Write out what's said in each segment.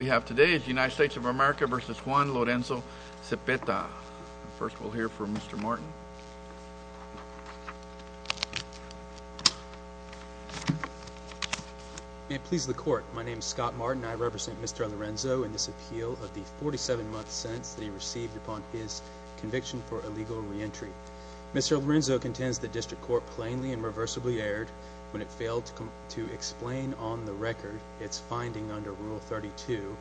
We have today United States of America v. Juan Lorenzo-Zepeta. First we'll hear from Mr. Martin. May it please the court, my name is Scott Martin. I represent Mr. Lorenzo in this appeal of the 47-month sentence that he received upon his conviction for illegal re-entry. Mr. Lorenzo contends the district court plainly and reversibly erred when it failed to explain on the record its finding under rule 32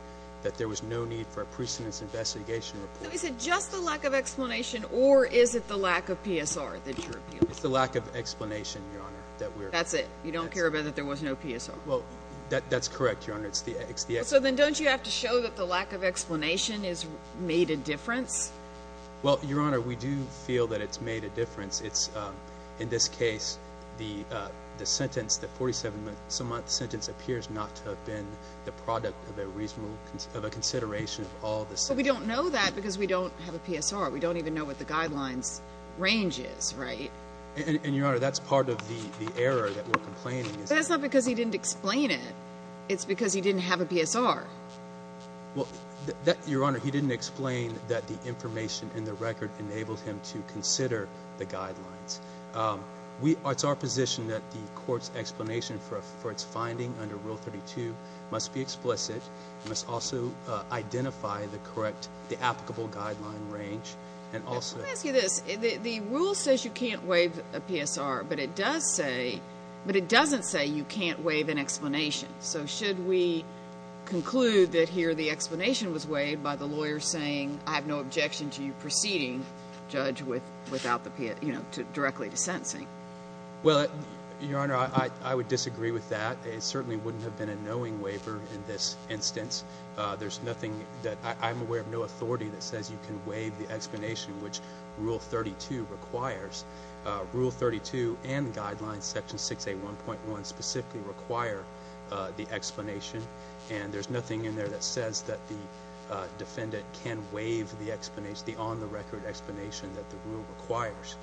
that there was no need for a precedence investigation report. Is it just the lack of explanation or is it the lack of PSR that you're appealing? It's the lack of explanation, your honor, that we're... That's it? You don't care about that there was no PSR? Well, that's correct, your honor. It's the... So then don't you have to show that the lack of explanation is made a difference? Well, your honor, we do feel that it's made a difference. It's, in this case, the sentence, the 47-month sentence, appears not to have been the product of a reasonable, of a consideration of all this. But we don't know that because we don't have a PSR. We don't even know what the guidelines range is, right? And your honor, that's part of the error that we're complaining. That's not because he didn't explain it. It's because he didn't have a PSR. Well, your honor, he didn't explain that the information in the record enabled him to consider the guidelines. It's our position that the court's explanation for its finding under Rule 32 must be explicit, must also identify the correct, the applicable guideline range, and also... Let me ask you this. The rule says you can't waive a PSR, but it does say... But it doesn't say you can't waive an explanation. So should we conclude that here the explanation was waived by the lawyer saying, I have no objection to you proceeding, judge, directly to sentencing? Well, your honor, I would disagree with that. It certainly wouldn't have been a knowing waiver in this instance. There's nothing that... I'm aware of no authority that says you can waive the explanation, which Rule 32 requires. Rule 32 and the guidelines, Section 681.1, specifically require the explanation. And there's nothing in there that says that the on-the-record explanation that the rule requires.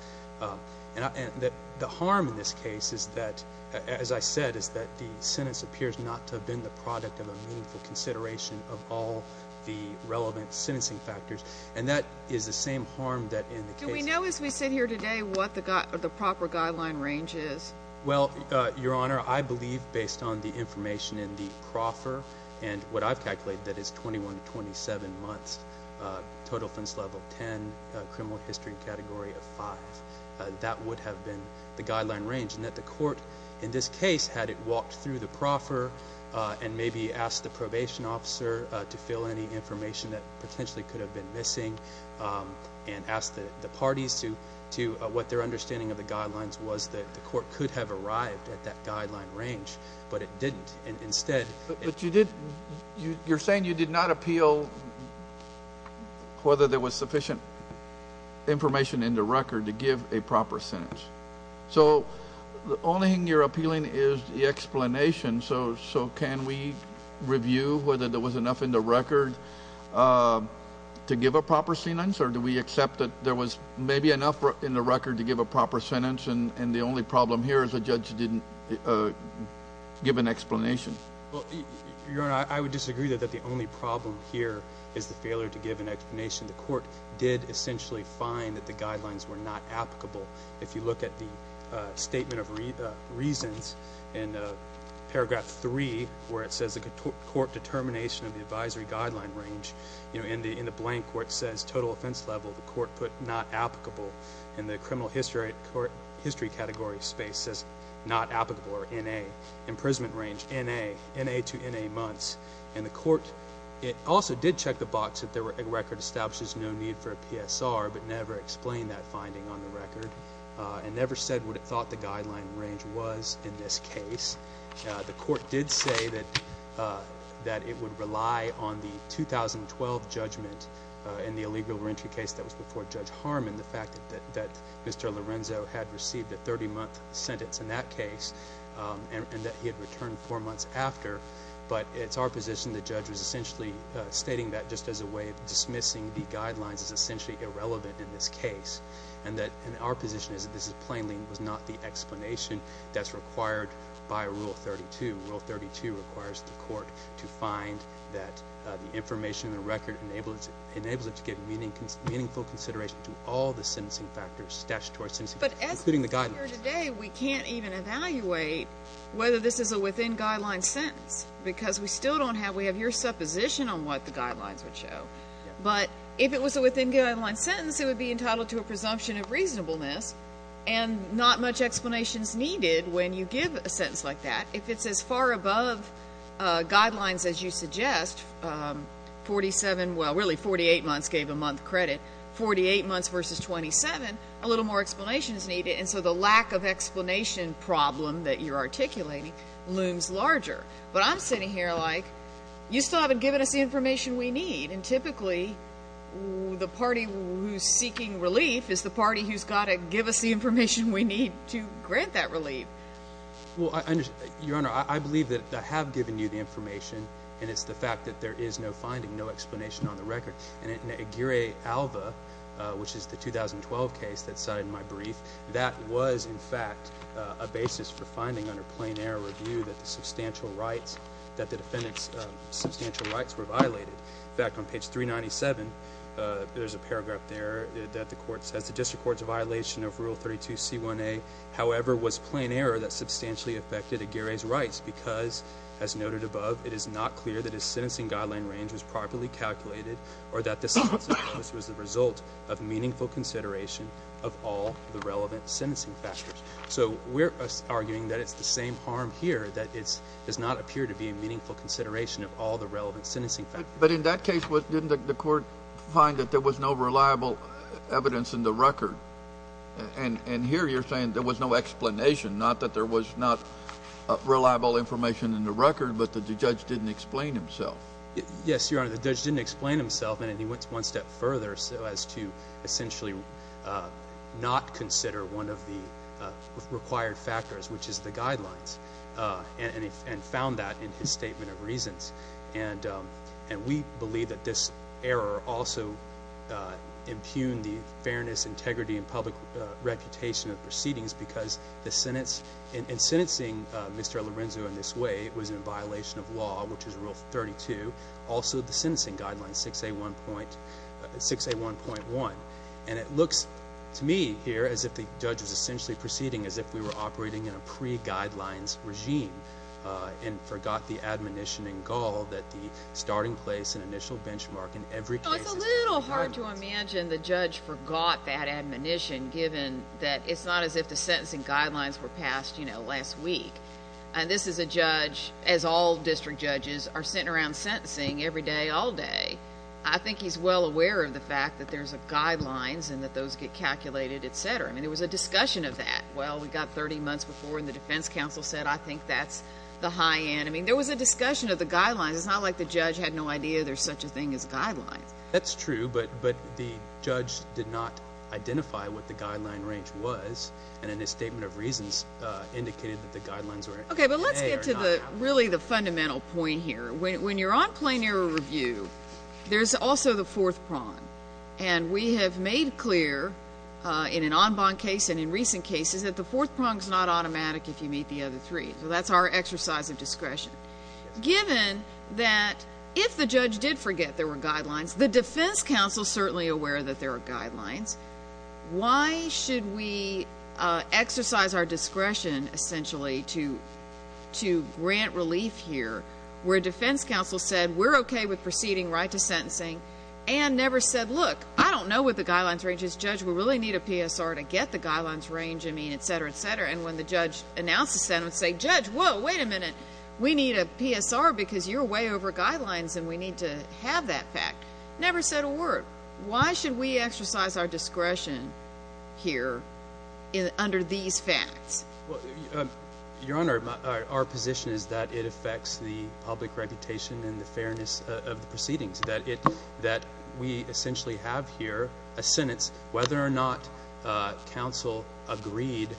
And the harm in this case is that, as I said, is that the sentence appears not to have been the product of a meaningful consideration of all the relevant sentencing factors. And that is the same harm that in the case... Do we know as we sit here today what the proper guideline range is? Well, your honor, I believe based on the information in the Crawford and what I've seen, total offense level 10, criminal history category of 5. That would have been the guideline range. And that the court, in this case, had it walked through the proffer and maybe asked the probation officer to fill any information that potentially could have been missing and asked the parties to... What their understanding of the guidelines was that the court could have arrived at that guideline range, but it didn't. And instead... You're saying you did not appeal whether there was sufficient information in the record to give a proper sentence. So the only thing you're appealing is the explanation. So can we review whether there was enough in the record to give a proper sentence? Or do we accept that there was maybe enough in the record to give a proper sentence and the only problem here is the judge didn't give an explanation? Well, your honor, I would disagree that the only problem here is the failure to give an explanation. The court did essentially find that the guidelines were not applicable. If you look at the statement of reasons in paragraph 3, where it says the court determination of the advisory guideline range, in the blank where it says total offense level, the court put not applicable. And the criminal history category space says not applicable or N.A. Imprisonment range N.A., N.A. to N.A. months. And the court... It also did check the box that the record establishes no need for a PSR, but never explained that finding on the record and never said what it thought the guideline range was in this case. The court did say that it would rely on the 2012 judgment in the illegal reentry case that was before Judge Harmon, the fact that Mr. Lorenzo had received a 30-month sentence in that case and that he had returned four months after. But it's our position the judge was essentially stating that just as a way of dismissing the guidelines is essentially irrelevant in this case. And our position is that this plainly was not the explanation that's required by Rule 32. Rule 32 requires the court to find that the information in the record enables it to get meaningful consideration to all the sentencing factors, statutory sentencing factors, including the guidelines. But as we're here today, we can't even evaluate whether this is a within-guidelines sentence because we still don't have... We have your supposition on what the guidelines would show. But if it was a within-guidelines sentence, it would be entitled to a presumption of reasonableness and not much explanation is needed when you give a sentence like that. If it's as far above guidelines as you suggest, 47... Well, really, 48 months gave a month credit. 48 months versus 27, a little more explanation is needed. And so the lack of explanation problem that you're articulating looms larger. But I'm sitting here like, you still haven't given us the information we need. And typically the party who's seeking relief is the party who's got to give us the information we need to grant that relief. Well, I understand. Your Honor, I believe that I have given you the is no finding, no explanation on the record. And in Aguirre-Alva, which is the 2012 case that's cited in my brief, that was, in fact, a basis for finding under plain error review that the substantial rights... That the defendant's substantial rights were violated. In fact, on page 397, there's a paragraph there that the court says, the district court's violation of Rule 32C1A, however, was plain error that substantially affected Aguirre's rights because, as noted above, it is not clear that his sentencing guideline range was properly calculated or that this was the result of meaningful consideration of all the relevant sentencing factors. So we're arguing that it's the same harm here, that it does not appear to be a meaningful consideration of all the relevant sentencing factors. But in that case, didn't the court find that there was no reliable evidence in the record? And here you're saying there was no explanation, not that there was not reliable information in the record, but that the judge didn't explain himself. Yes, Your Honor, the judge didn't explain himself, and he went one step further as to essentially not consider one of the required factors, which is the guidelines, and found that in his statement of reasons. And we believe that this error also impugned the sentence. In sentencing Mr. Lorenzo in this way, it was in violation of law, which is Rule 32, also the sentencing guideline 6A1.1. And it looks to me here as if the judge was essentially proceeding as if we were operating in a pre-guidelines regime and forgot the admonition in gall that the starting place and initial benchmark in every case. It's a little hard to pass, you know, last week. And this is a judge, as all district judges, are sitting around sentencing every day, all day. I think he's well aware of the fact that there's a guidelines and that those get calculated, etc. I mean, there was a discussion of that. Well, we got 30 months before and the defense counsel said, I think that's the high end. I mean, there was a discussion of the guidelines. It's not like the judge had no idea there's such a thing as guidelines. That's true, but the judge did not identify what the guideline range was and in his statement of reasons indicated that the guidelines were A or not. Okay, but let's get to the really the fundamental point here. When you're on plain error review, there's also the fourth prong. And we have made clear in an en banc case and in recent cases that the fourth prong is not automatic if you meet the other three. So that's our exercise of discretion. Given that if the judge did forget there were guidelines, the defense counsel is certainly aware that there are guidelines. Why should we exercise our discretion, essentially, to grant relief here where a defense counsel said, we're okay with proceeding right to sentencing and never said, look, I don't know what the guidelines range is. Judge, we really need a PSR to get the guidelines range, I mean, etc., etc. And when the judge announced the sentence, said, Judge, whoa, wait a minute. We need a PSR because you're way over guidelines and we need to have that fact. Never said a word. Why should we exercise our discretion here under these facts? Your Honor, our position is that it affects the public reputation and the fairness of the proceedings. That we essentially have here a sentence whether or not counsel agreed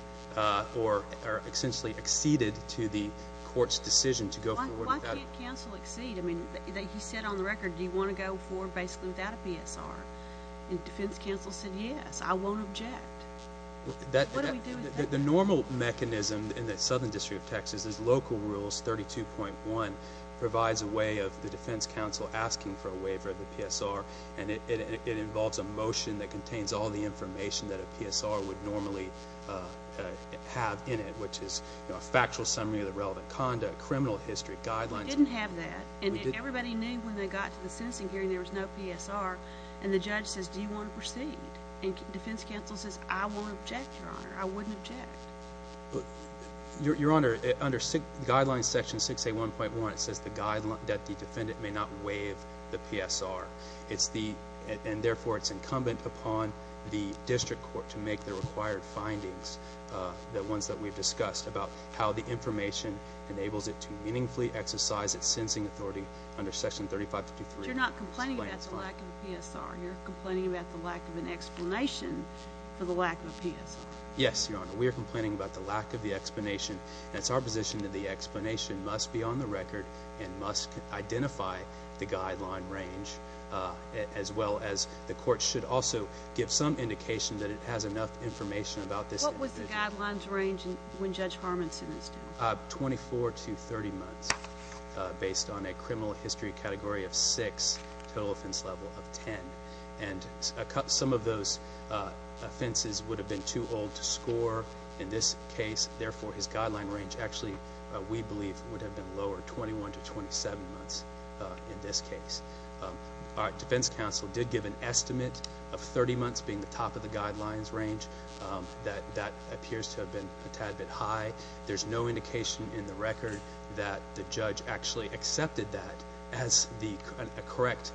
or essentially acceded to the court's decision to go forward. Why can't counsel accede? I mean, he said on the record, do you want to go forward basically without a PSR? And defense counsel said, yes, I won't object. What do we do with that? The normal mechanism in the Southern District of Texas is local rules 32.1 provides a way of the defense counsel asking for a waiver of the PSR and it involves a motion that contains all the information that a PSR would normally have in it, which is a factual summary of the relevant conduct, criminal history, guidelines. We didn't have that and everybody knew when they got to the sentencing hearing there was no PSR and the judge says, do you want to proceed? And defense counsel says, I won't object, Your Honor. I wouldn't object. Your Honor, under guidelines section 681.1 it says the guideline that the defendant may not waive the PSR. It's the, and therefore it's incumbent upon the district court to make the required findings, the ones that we've discussed about how the information enables it to meaningfully exercise its sensing authority under section 3553. You're not complaining about the lack of a PSR, you're complaining about the lack of an explanation for the lack of a PSR. Yes, Your Honor, we are complaining about the lack of the explanation. It's our position that the explanation must be on the record and must identify the guideline range as well as the court should also give some indication that it has enough information about this. What was the guidelines range when Judge Harmonson is dead? 24 to 30 months based on a criminal history category of six total offense level of 10 and some of those offenses would have been too old to score in this case. Therefore his guideline range actually we believe would have been lowered 21 to 27 months in this case. Our defense counsel did give an estimate of 30 months being the top of the guidelines range that that appears to have been a tad bit high. There's no indication in the record that the judge actually accepted that as the correct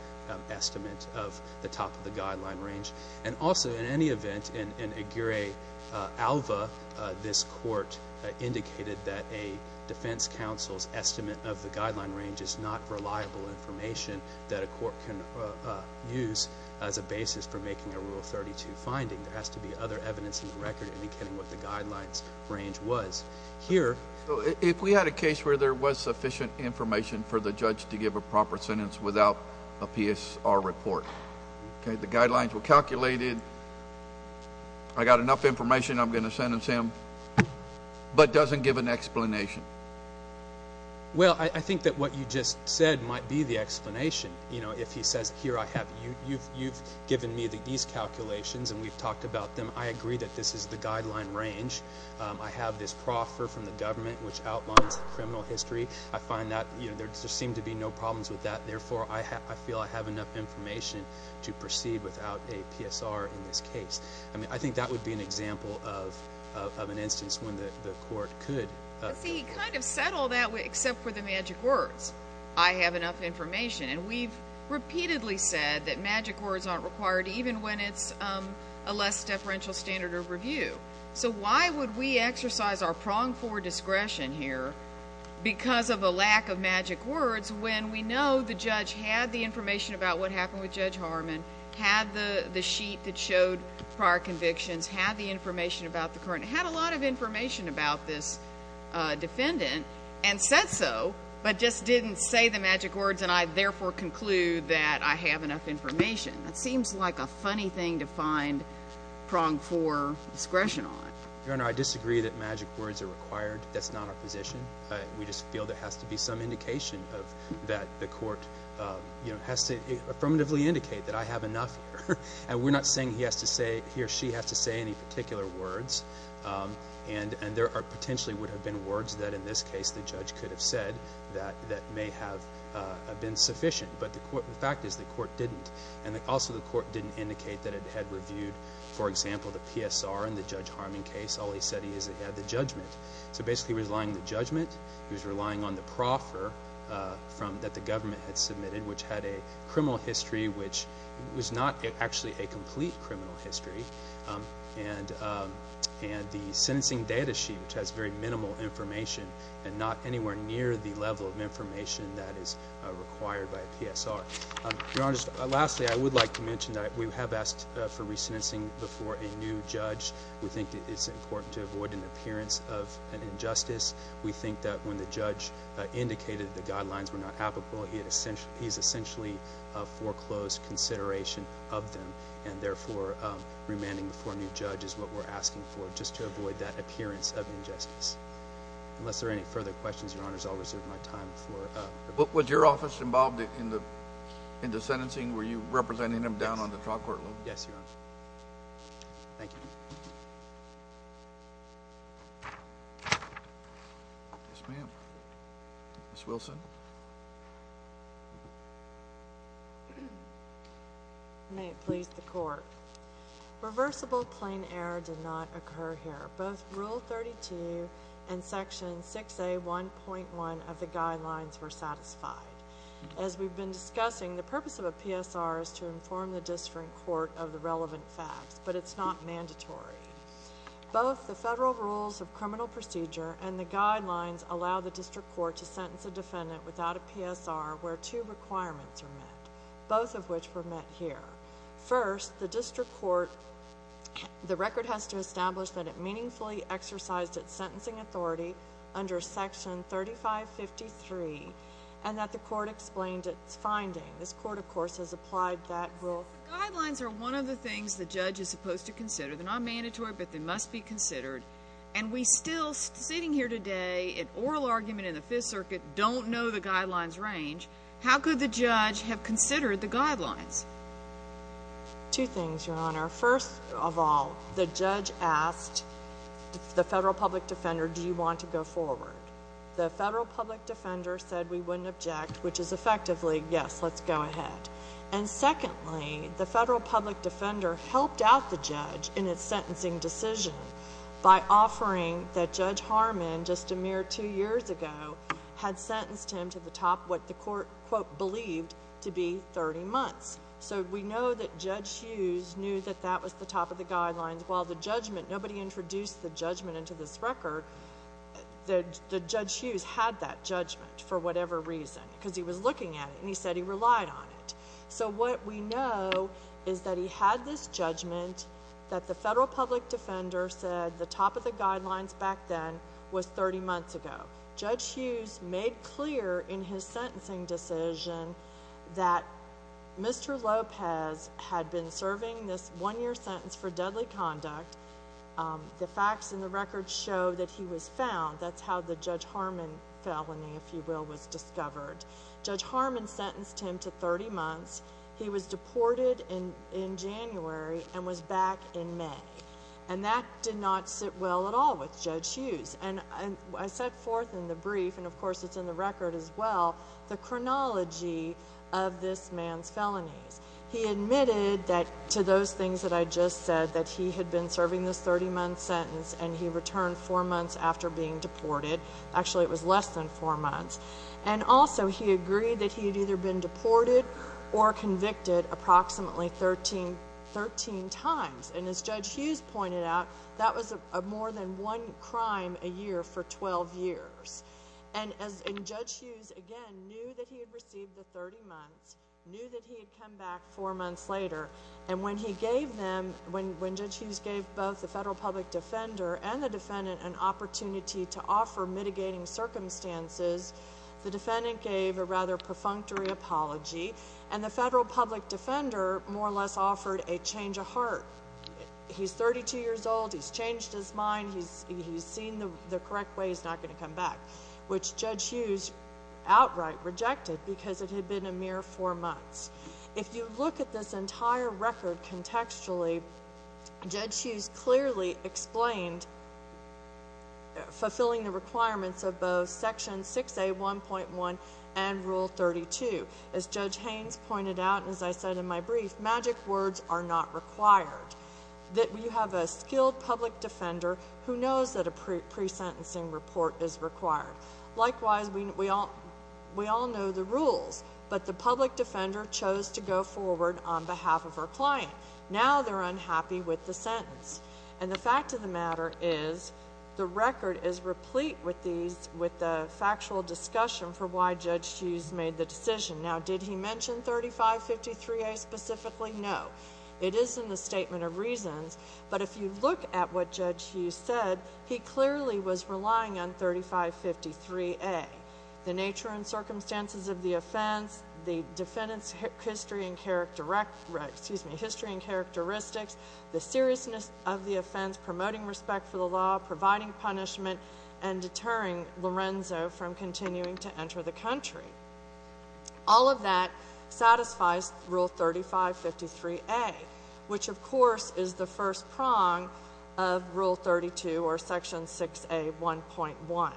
estimate of the top of the guideline range and also in any event in Aguirre-Alva this court indicated that a defense counsel's estimate of the guideline range is not reliable information that a court can use as a finding. There has to be other evidence in the record indicating what the guidelines range was. If we had a case where there was sufficient information for the judge to give a proper sentence without a PSR report, okay, the guidelines were calculated, I got enough information, I'm going to sentence him, but doesn't give an explanation. Well, I think that what you just said might be the explanation. You know, if he says, here I have, you've given me these calculations and we've talked about them. I agree that this is the guideline range. I have this proffer from the government which outlines the criminal history. I find that, you know, there seem to be no problems with that. Therefore, I feel I have enough information to proceed without a PSR in this case. I mean, I think that would be an example of an instance when the court could. See, he kind of said all that except for the magic words. I have enough information. And we've repeatedly said that magic words aren't required even when it's a less deferential standard of review. So why would we exercise our prong for discretion here because of a lack of magic words when we know the judge had the information about what happened with Judge Harmon, had the sheet that showed prior convictions, had the information about the current, had a lot of information about this defendant and said so but just didn't say the magic words and I therefore conclude that I have enough information. That seems like a funny thing to find prong for discretion on. Your Honor, I disagree that magic words are required. That's not our position. We just feel there has to be some indication of that the court, you know, has to affirmatively indicate that I have enough here. And we're not saying he has to say, he or she has to say any particular words. And there are potentially would have been words that in this case the judge could have said that may have been sufficient. But the fact is the court didn't. And also the court didn't indicate that it had reviewed, for example, the PSR and the Judge Harmon case. All he said he had the judgment. So basically relying the judgment, he was relying on the proffer from that the government had submitted which had a criminal history which was not actually a complete criminal history. And the sentencing data sheet which has very minimal information and not anywhere near the level of information that is required by a PSR. Your Honor, lastly, I would like to mention that we have asked for resentencing before a new judge. We think it's important to avoid an appearance of an injustice. We think that when the judge indicated the therefore remanding before a new judge is what we're asking for just to avoid that appearance of injustice. Unless there are any further questions, Your Honor, I'll reserve my time. Was your office involved in the in the sentencing? Were you representing them down on the trial court level? Yes, Your Honor. Thank you. Yes, ma'am. Ms. Wilson. May it please the court. Reversible plain error did not occur here. Both Rule 32 and Section 6A 1.1 of the guidelines were satisfied. As we've been discussing, the purpose of a PSR is to inform the district court of the relevant facts, but it's not mandatory. Both the federal rules of criminal without a PSR, where two requirements are met, both of which were met here. First, the district court, the record has to establish that it meaningfully exercised its sentencing authority under Section 3553 and that the court explained its finding. This court, of course, has applied that rule. The guidelines are one of the things the judge is supposed to consider. They're not mandatory, but they must be considered, and we still, sitting here today, an oral argument in the district court, we don't know the guidelines' range. How could the judge have considered the guidelines? Two things, Your Honor. First of all, the judge asked the federal public defender, do you want to go forward? The federal public defender said we wouldn't object, which is effectively, yes, let's go ahead. And secondly, the federal public defender helped out the judge in its sentencing decision by offering that Judge Harmon, just a mere two years ago, had sentenced him to the top, what the court, quote, believed to be 30 months. So we know that Judge Hughes knew that that was the top of the guidelines. While the judgment, nobody introduced the judgment into this record, the Judge Hughes had that judgment for whatever reason, because he was looking at it and he said he relied on it. So what we know is that he had this judgment that the federal public defender said the top of the guidelines back then was 30 months ago. Judge Hughes made clear in his sentencing decision that Mr. Lopez had been serving this one-year sentence for deadly conduct. The facts in the record show that he was found. That's how the Judge Harmon felony, if you will, was discovered. Judge Harmon sentenced him to 30 months. He was back in May. And that did not sit well at all with Judge Hughes. And I set forth in the brief, and of course it's in the record as well, the chronology of this man's felonies. He admitted that to those things that I just said, that he had been serving this 30-month sentence and he returned four months after being deported. Actually, it was less than four months. And also, he agreed that he had either been deported or convicted approximately 13 times. And as Judge Hughes pointed out, that was more than one crime a year for 12 years. And Judge Hughes, again, knew that he had received the 30 months, knew that he had come back four months later. And when Judge Hughes gave both the federal public defender and the defendant an opportunity to offer mitigating circumstances, the defendant gave a rather perfunctory apology, and the federal public defender more or less offered a change of heart. He's 32 years old. He's changed his mind. He's seen the correct way. He's not going to come back, which Judge Hughes outright rejected because it had been a mere four months. If you look at this entire record contextually, Judge Hughes clearly explained fulfilling the requirements of both Section 6A 1.1 and Rule 32. As Judge Haynes pointed out, and as I said in my brief, magic words are not required. You have a skilled public defender who knows that a pre-sentencing report is required. Likewise, we all know the rules, but the public defender chose to go forward on behalf of her client. Now they're unhappy with the sentence. And the fact of the matter is the record is replete with the factual discussion for why Judge Hughes made the decision. Now, did he mention 3553A specifically? No. It is in the statement of reasons, but if you look at what Judge Hughes said, he clearly was relying on 3553A. The nature and circumstances of the offense, the defendant's history and characteristics, the seriousness of the offense, promoting respect for the law, providing punishment, and deterring Lorenzo from continuing to enter the country. All of that satisfies Rule 3553A, which of course is the first prong of Rule 32 or Section 6A 1.1.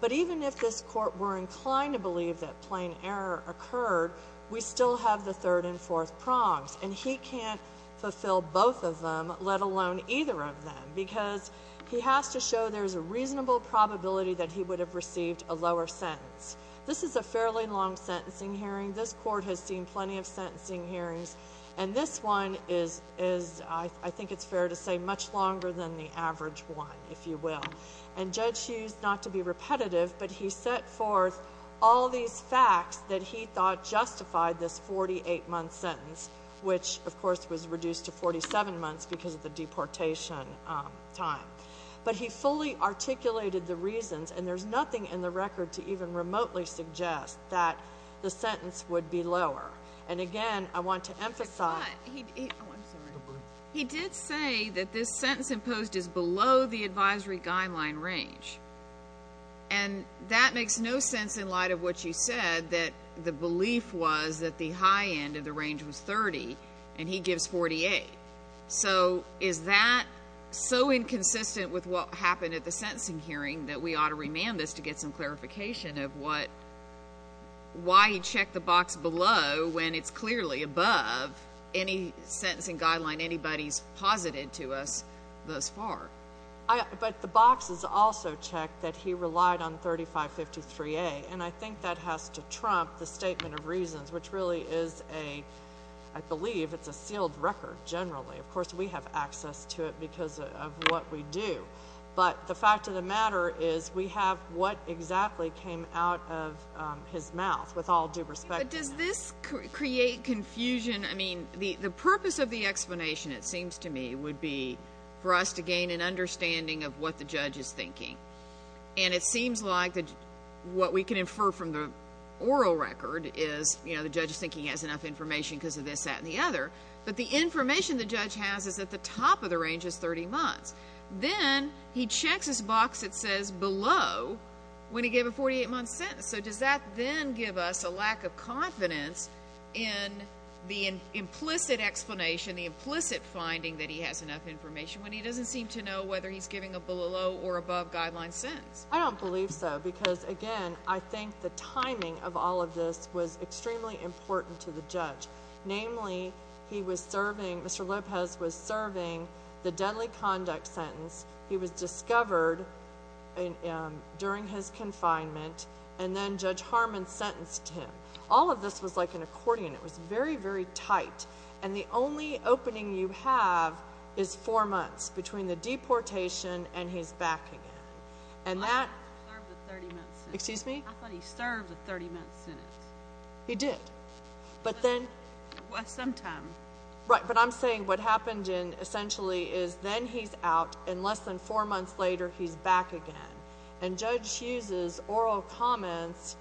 But even if this court were inclined to believe that plain error occurred, we still have the third and fourth prongs. And he can't fulfill both of them, let alone either of them, because he has to show there's a reasonable probability that he would have received a lower sentence. This is a fairly long sentencing hearing. This court has seen plenty of sentencing hearings. And this one is, I think it's fair to say, much longer than the average one, if you will. And Judge Hughes, not to be repetitive, but he set forth all these facts that he thought justified this 48-month sentence, which of course was reduced to 47 months because of the deportation time. But he fully articulated the reasons, and there's nothing in the record to even remotely suggest that the sentence would be lower. And again, I want to emphasize... He did say that this sentence imposed is below the advisory guideline range. And that makes no sense in light of what you said, that the belief was that the high end of the range was 30, and he gives 48. So is that so inconsistent with what happened at the sentencing hearing that we ought to remand this to get some clarification of why he checked the box below when it's clearly above any sentencing guideline anybody's posited to us thus far? But the box is also checked that he relied on 3553A. And I think that has to trump the statement of reasons, which really is a... I believe it's a sealed record, generally. Of course, we have access to it because of what we do. But the fact of the matter is we have what exactly came out of his mouth, with all due respect. But does this create confusion? I mean, the purpose of the explanation, it seems to me, would be for us to gain an understanding of what the judge is thinking. And it seems like what we can infer from the oral record is, you know, the judge is thinking he has enough information because of this, that, and the other. But the information the judge has is that the top range is 30 months. Then he checks this box that says below when he gave a 48-month sentence. So does that then give us a lack of confidence in the implicit explanation, the implicit finding that he has enough information, when he doesn't seem to know whether he's giving a below or above guideline sentence? I don't believe so. Because, again, I think the timing of all of this was the deadly conduct sentence. He was discovered during his confinement. And then Judge Harmon sentenced him. All of this was like an accordion. It was very, very tight. And the only opening you have is four months between the deportation and his back again. And that— I thought he served a 30-month sentence. Excuse me? I thought he served a 30-month sentence. He did. But then— Sometime. Right. But I'm saying what happened essentially is then he's out, and less than four months later, he's back again. And Judge Hughes' oral comments,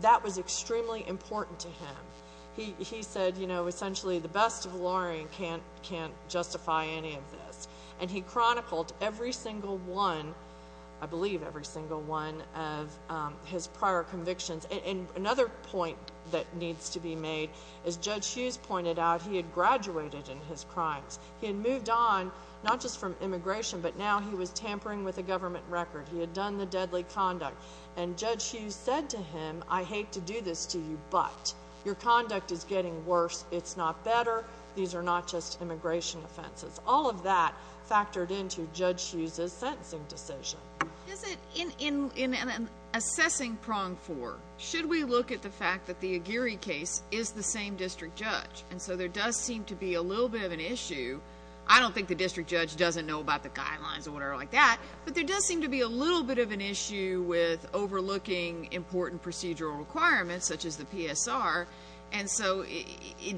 that was extremely important to him. He said, you know, essentially, the best of lawyering can't justify any of this. And he chronicled every single one—I believe every single one—of his prior convictions. And another point that needs to be made, as Judge Hughes pointed out, he had graduated in his crimes. He had moved on, not just from immigration, but now he was tampering with a government record. He had done the deadly conduct. And Judge Hughes said to him, I hate to do this to you, but your conduct is getting worse. It's not better. These are not just immigration offenses. All of that factored into Judge Hughes' sentencing decision. Is it—in assessing prong four, should we look at the fact that the Aguirre case is the same district judge? And so there does seem to be a little bit of an issue. I don't think the district judge doesn't know about the guidelines or whatever like that, but there does seem to be a little bit of an issue with overlooking important procedural requirements, such as the PSR. And so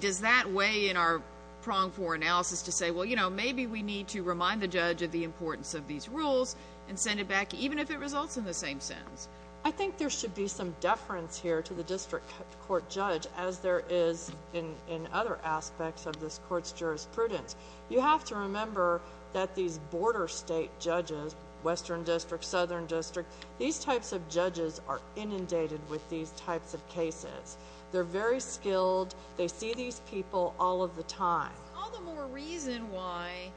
does that weigh in our prong four analysis to say, well, you know, maybe we need to remind the judge of importance of these rules and send it back, even if it results in the same sentence? I think there should be some deference here to the district court judge, as there is in other aspects of this court's jurisprudence. You have to remember that these border state judges, western district, southern district, these types of judges are inundated with these types of cases. They're very skilled. They see these people all of the time. All the more reason why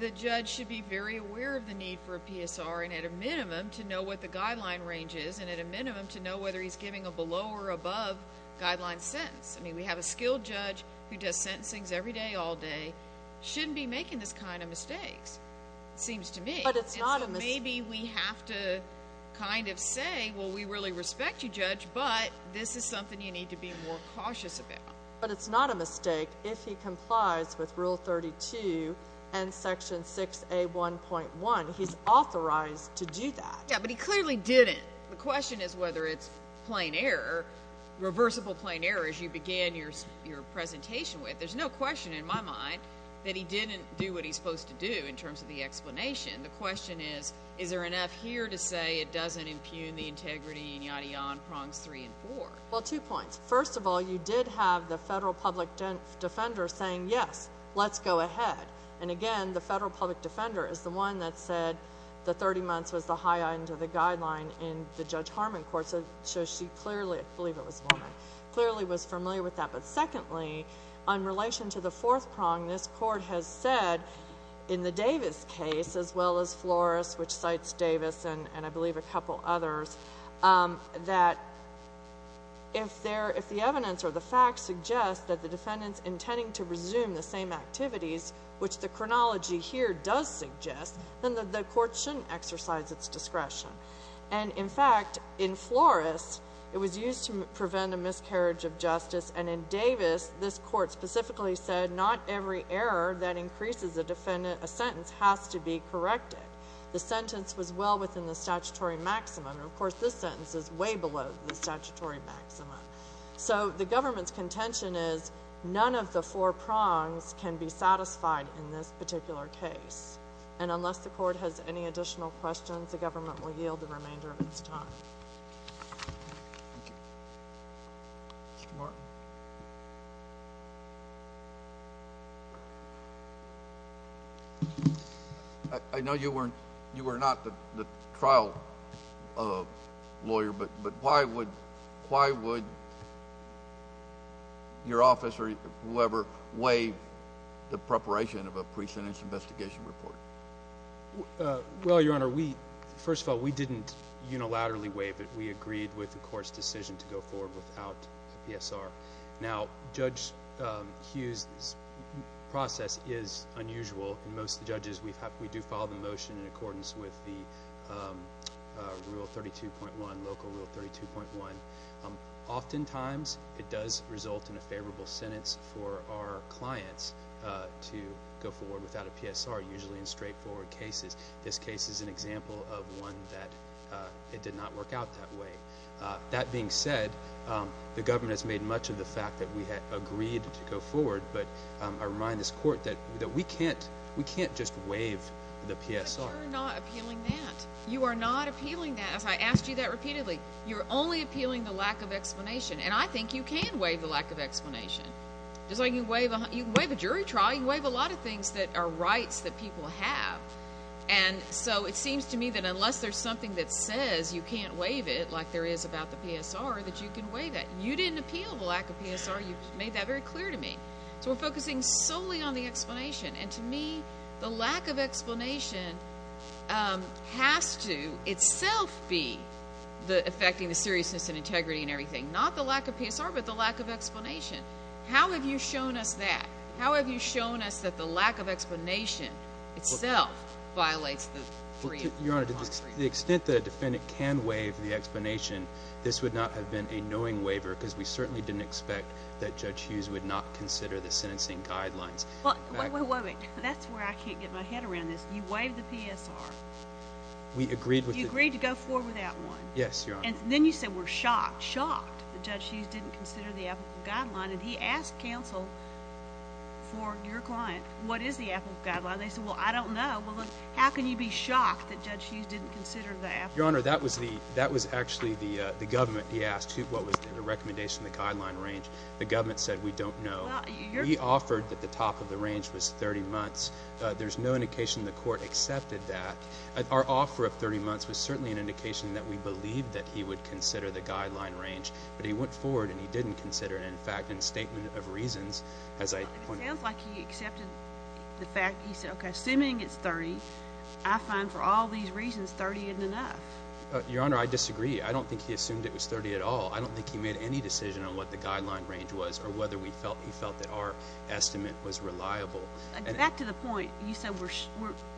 the judge should be very aware of the need for a PSR and at a minimum to know what the guideline range is and at a minimum to know whether he's giving a below or above guideline sentence. I mean, we have a skilled judge who does sentencings every day, all day, shouldn't be making this kind of mistakes, it seems to me. But it's not a mistake. Maybe we have to kind of say, well, we really respect you, judge, but this is something you need to be more cautious about. But it's not a mistake if he complies with Rule 32 and Section 6A1.1. He's authorized to do that. Yeah, but he clearly didn't. The question is whether it's plain error, reversible plain error, as you began your presentation with. There's no question in my mind that he didn't do what he's supposed to do in terms of the explanation. The question is, is there enough here to say it doesn't impugn the integrity and yada yada prongs three and four? Well, two points. First of all, you did have the federal public defender saying, yes, let's go ahead. And again, the federal public defender is the one that said the 30 months was the high end of the guideline in the Judge Harmon court, so she clearly, I believe it was woman, clearly was familiar with that. But secondly, on relation to the fourth prong, this court has said in the Davis case, as well as Flores, which cites Davis and I believe a couple others, that if the evidence or the facts suggest that the defendant's intending to resume the same activities, which the chronology here does suggest, then the court shouldn't exercise its discretion. And in fact, in Flores, it was used to prevent a miscarriage of justice, and in Davis, this court specifically said not every error that increases a sentence has to be below the statutory maximum. So the government's contention is none of the four prongs can be satisfied in this particular case. And unless the court has any additional questions, the government will yield the remainder of its time. Thank you. Mr. Martin. I know you were not the trial lawyer, but why would your office or whoever weigh the preparation of a pre-sentence investigation report? Well, Your Honor, first of all, we didn't unilaterally weigh, but we agreed with the court's decision to go forward without a PSR. Now, Judge Hughes' process is unusual. In most of the judges, we do follow the motion in accordance with the rule 32.1, local rule 32.1. Oftentimes, it does result in a favorable sentence for our clients to go forward without a PSR, usually in straightforward cases. This case is an example of one that did not work out that way. That being said, the government has made much of the fact that we had agreed to go forward, but I remind this court that we can't just waive the PSR. But you're not appealing that. You are not appealing that. As I asked you that repeatedly, you're only appealing the lack of explanation. And I think you can waive the lack of explanation. Just like you can waive a jury trial, you can waive a lot of things that are rights that people have. And so it seems to me that unless there's something that says you can't waive it, like there is about the PSR, that you can waive it. You didn't appeal the lack of PSR. You made that very clear to me. So we're focusing solely on the explanation. And to me, the lack of explanation has to itself be affecting the seriousness and integrity and everything. Not the lack of PSR, but the lack of explanation. How have you shown us that? How have you shown us that the lack of explanation itself violates the freedom of the law? Your Honor, to the extent that a defendant can waive the explanation, this would not have been a knowing waiver because we certainly didn't expect that Judge Hughes would not consider the sentencing guidelines. Wait, wait, wait. That's where I can't get my head around this. You waived the PSR. We agreed with it. You agreed to go without one. Yes, Your Honor. And then you said we're shocked, shocked that Judge Hughes didn't consider the applicable guideline. And he asked counsel for your client, what is the applicable guideline? They said, well, I don't know. Well, then how can you be shocked that Judge Hughes didn't consider the applicable guideline? Your Honor, that was actually the government. He asked what was the recommendation of the guideline range. The government said we don't know. We offered that the top of the range was 30 months. There's no indication the court accepted that. Our offer of 30 months was certainly an indication that we believed that he would consider the guideline range. But he went forward and he didn't consider it. In fact, in statement of reasons, as I pointed out. It sounds like he accepted the fact. He said, okay, assuming it's 30, I find for all these reasons 30 isn't enough. Your Honor, I disagree. I don't think he assumed it was 30 at all. I don't think he made any decision on what the guideline range was or whether he felt that our estimate was reliable. Back to the point, you said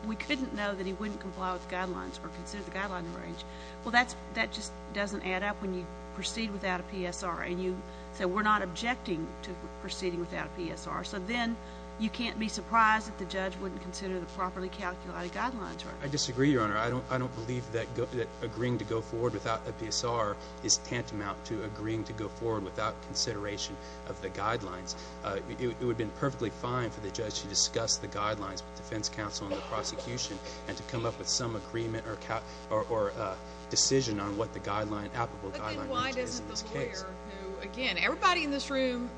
we couldn't know that he wouldn't comply with the guidelines or consider the guideline range. Well, that just doesn't add up when you proceed without a PSR. And you said we're not objecting to proceeding without a PSR. So then you can't be surprised that the judge wouldn't consider the properly calculated guidelines. I disagree, Your Honor. I don't believe that agreeing to go forward without a PSR is tantamount to agreeing to go forward without consideration of the guidelines. It would have been perfectly fine for the judge to discuss the guidelines with defense counsel and the agreement or decision on what the applicable guideline range is in this case. But then why doesn't the lawyer, who again, everybody in this room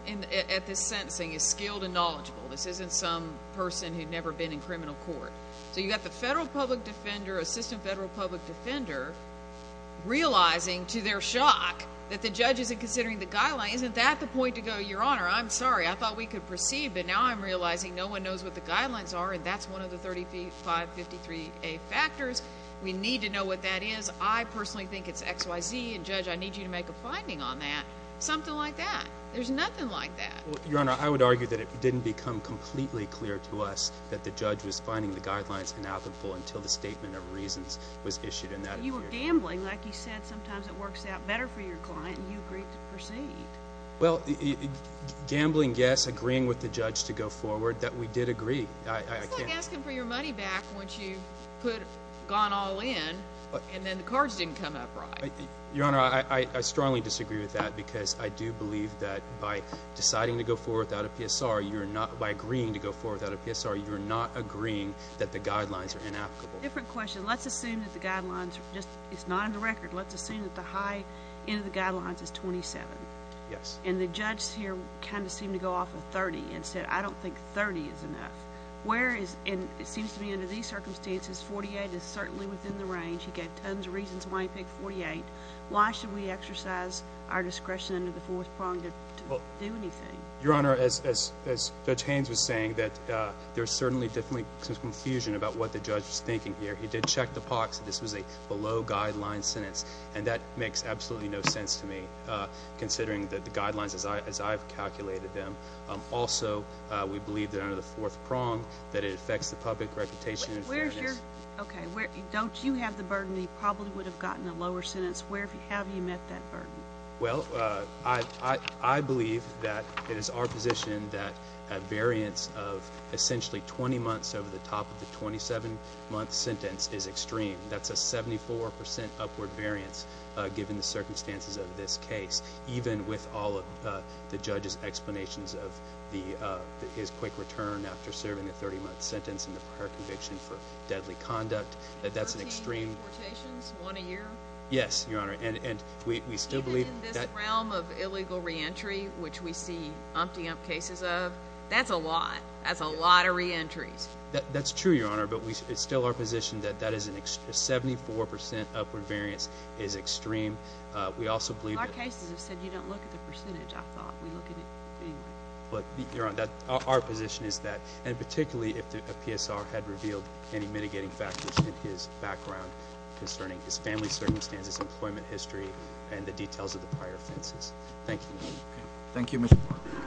at this sentencing is skilled and knowledgeable. This isn't some person who'd never been in criminal court. So you've got the federal public defender, assistant federal public defender, realizing to their shock that the judge isn't considering the guidelines. Isn't that the point to go, Your Honor, I'm sorry, I thought we could proceed, but now I'm realizing no one knows what the guidelines are and that's one of the 35, 53A factors. We need to know what that is. I personally think it's X, Y, Z, and judge, I need you to make a finding on that. Something like that. There's nothing like that. Your Honor, I would argue that it didn't become completely clear to us that the judge was finding the guidelines inapplicable until the statement of reasons was issued and that you were gambling. Like you said, sometimes it works out better for your client and you agreed to proceed. Well, gambling, yes. Agreeing with the judge to go forward that we did agree. It's like asking for your money back once you put, gone all in and then the cards didn't come up right. Your Honor, I strongly disagree with that because I do believe that by deciding to go forward without a PSR, you're not, by agreeing to go forward without a PSR, you're not agreeing that the guidelines are inapplicable. Different question. Let's assume that the guidelines are just, it's not in the record. Let's assume that the high end of the guidelines is 27. Yes. And the judge here kind of seemed to go off of 30 and said, I don't think 30 is enough. Where is, and it seems to me under these circumstances, 48 is certainly within the range. He gave tons of reasons why he picked 48. Why should we exercise our discretion under the fourth prong to do anything? Your Honor, as Judge Haynes was saying, that there's certainly definitely some confusion about what the judge was thinking here. He did check the pox that this is a below guideline sentence and that makes absolutely no sense to me considering that the guidelines as I've calculated them. Also, we believe that under the fourth prong that it affects the public reputation. Okay. Don't you have the burden that you probably would have gotten a lower sentence? Where have you met that burden? Well, I believe that it is our position that a variance of essentially 20 months over the top of the 27 month sentence is extreme. That's a 74% upward variance given the circumstances of this case. Even with all of the judge's explanations of his quick return after serving a 30 month sentence in the prior conviction for deadly conduct, that's an extreme... 13 deportations, one a year? Yes, Your Honor. And we still believe... Even in this realm of illegal reentry, which we see umpty ump cases of, that's a lot. That's a lot of reentries. That's true, Your Honor, but it's still our position that that 74% upward variance is extreme. We also believe... Our cases have said you don't look at the percentage, I thought. We look at it... But, Your Honor, our position is that, and particularly if a PSR had revealed any mitigating factors in his background concerning his family circumstances, employment history, and the details of the prior offenses. Thank you. Thank you, Mr. Parker.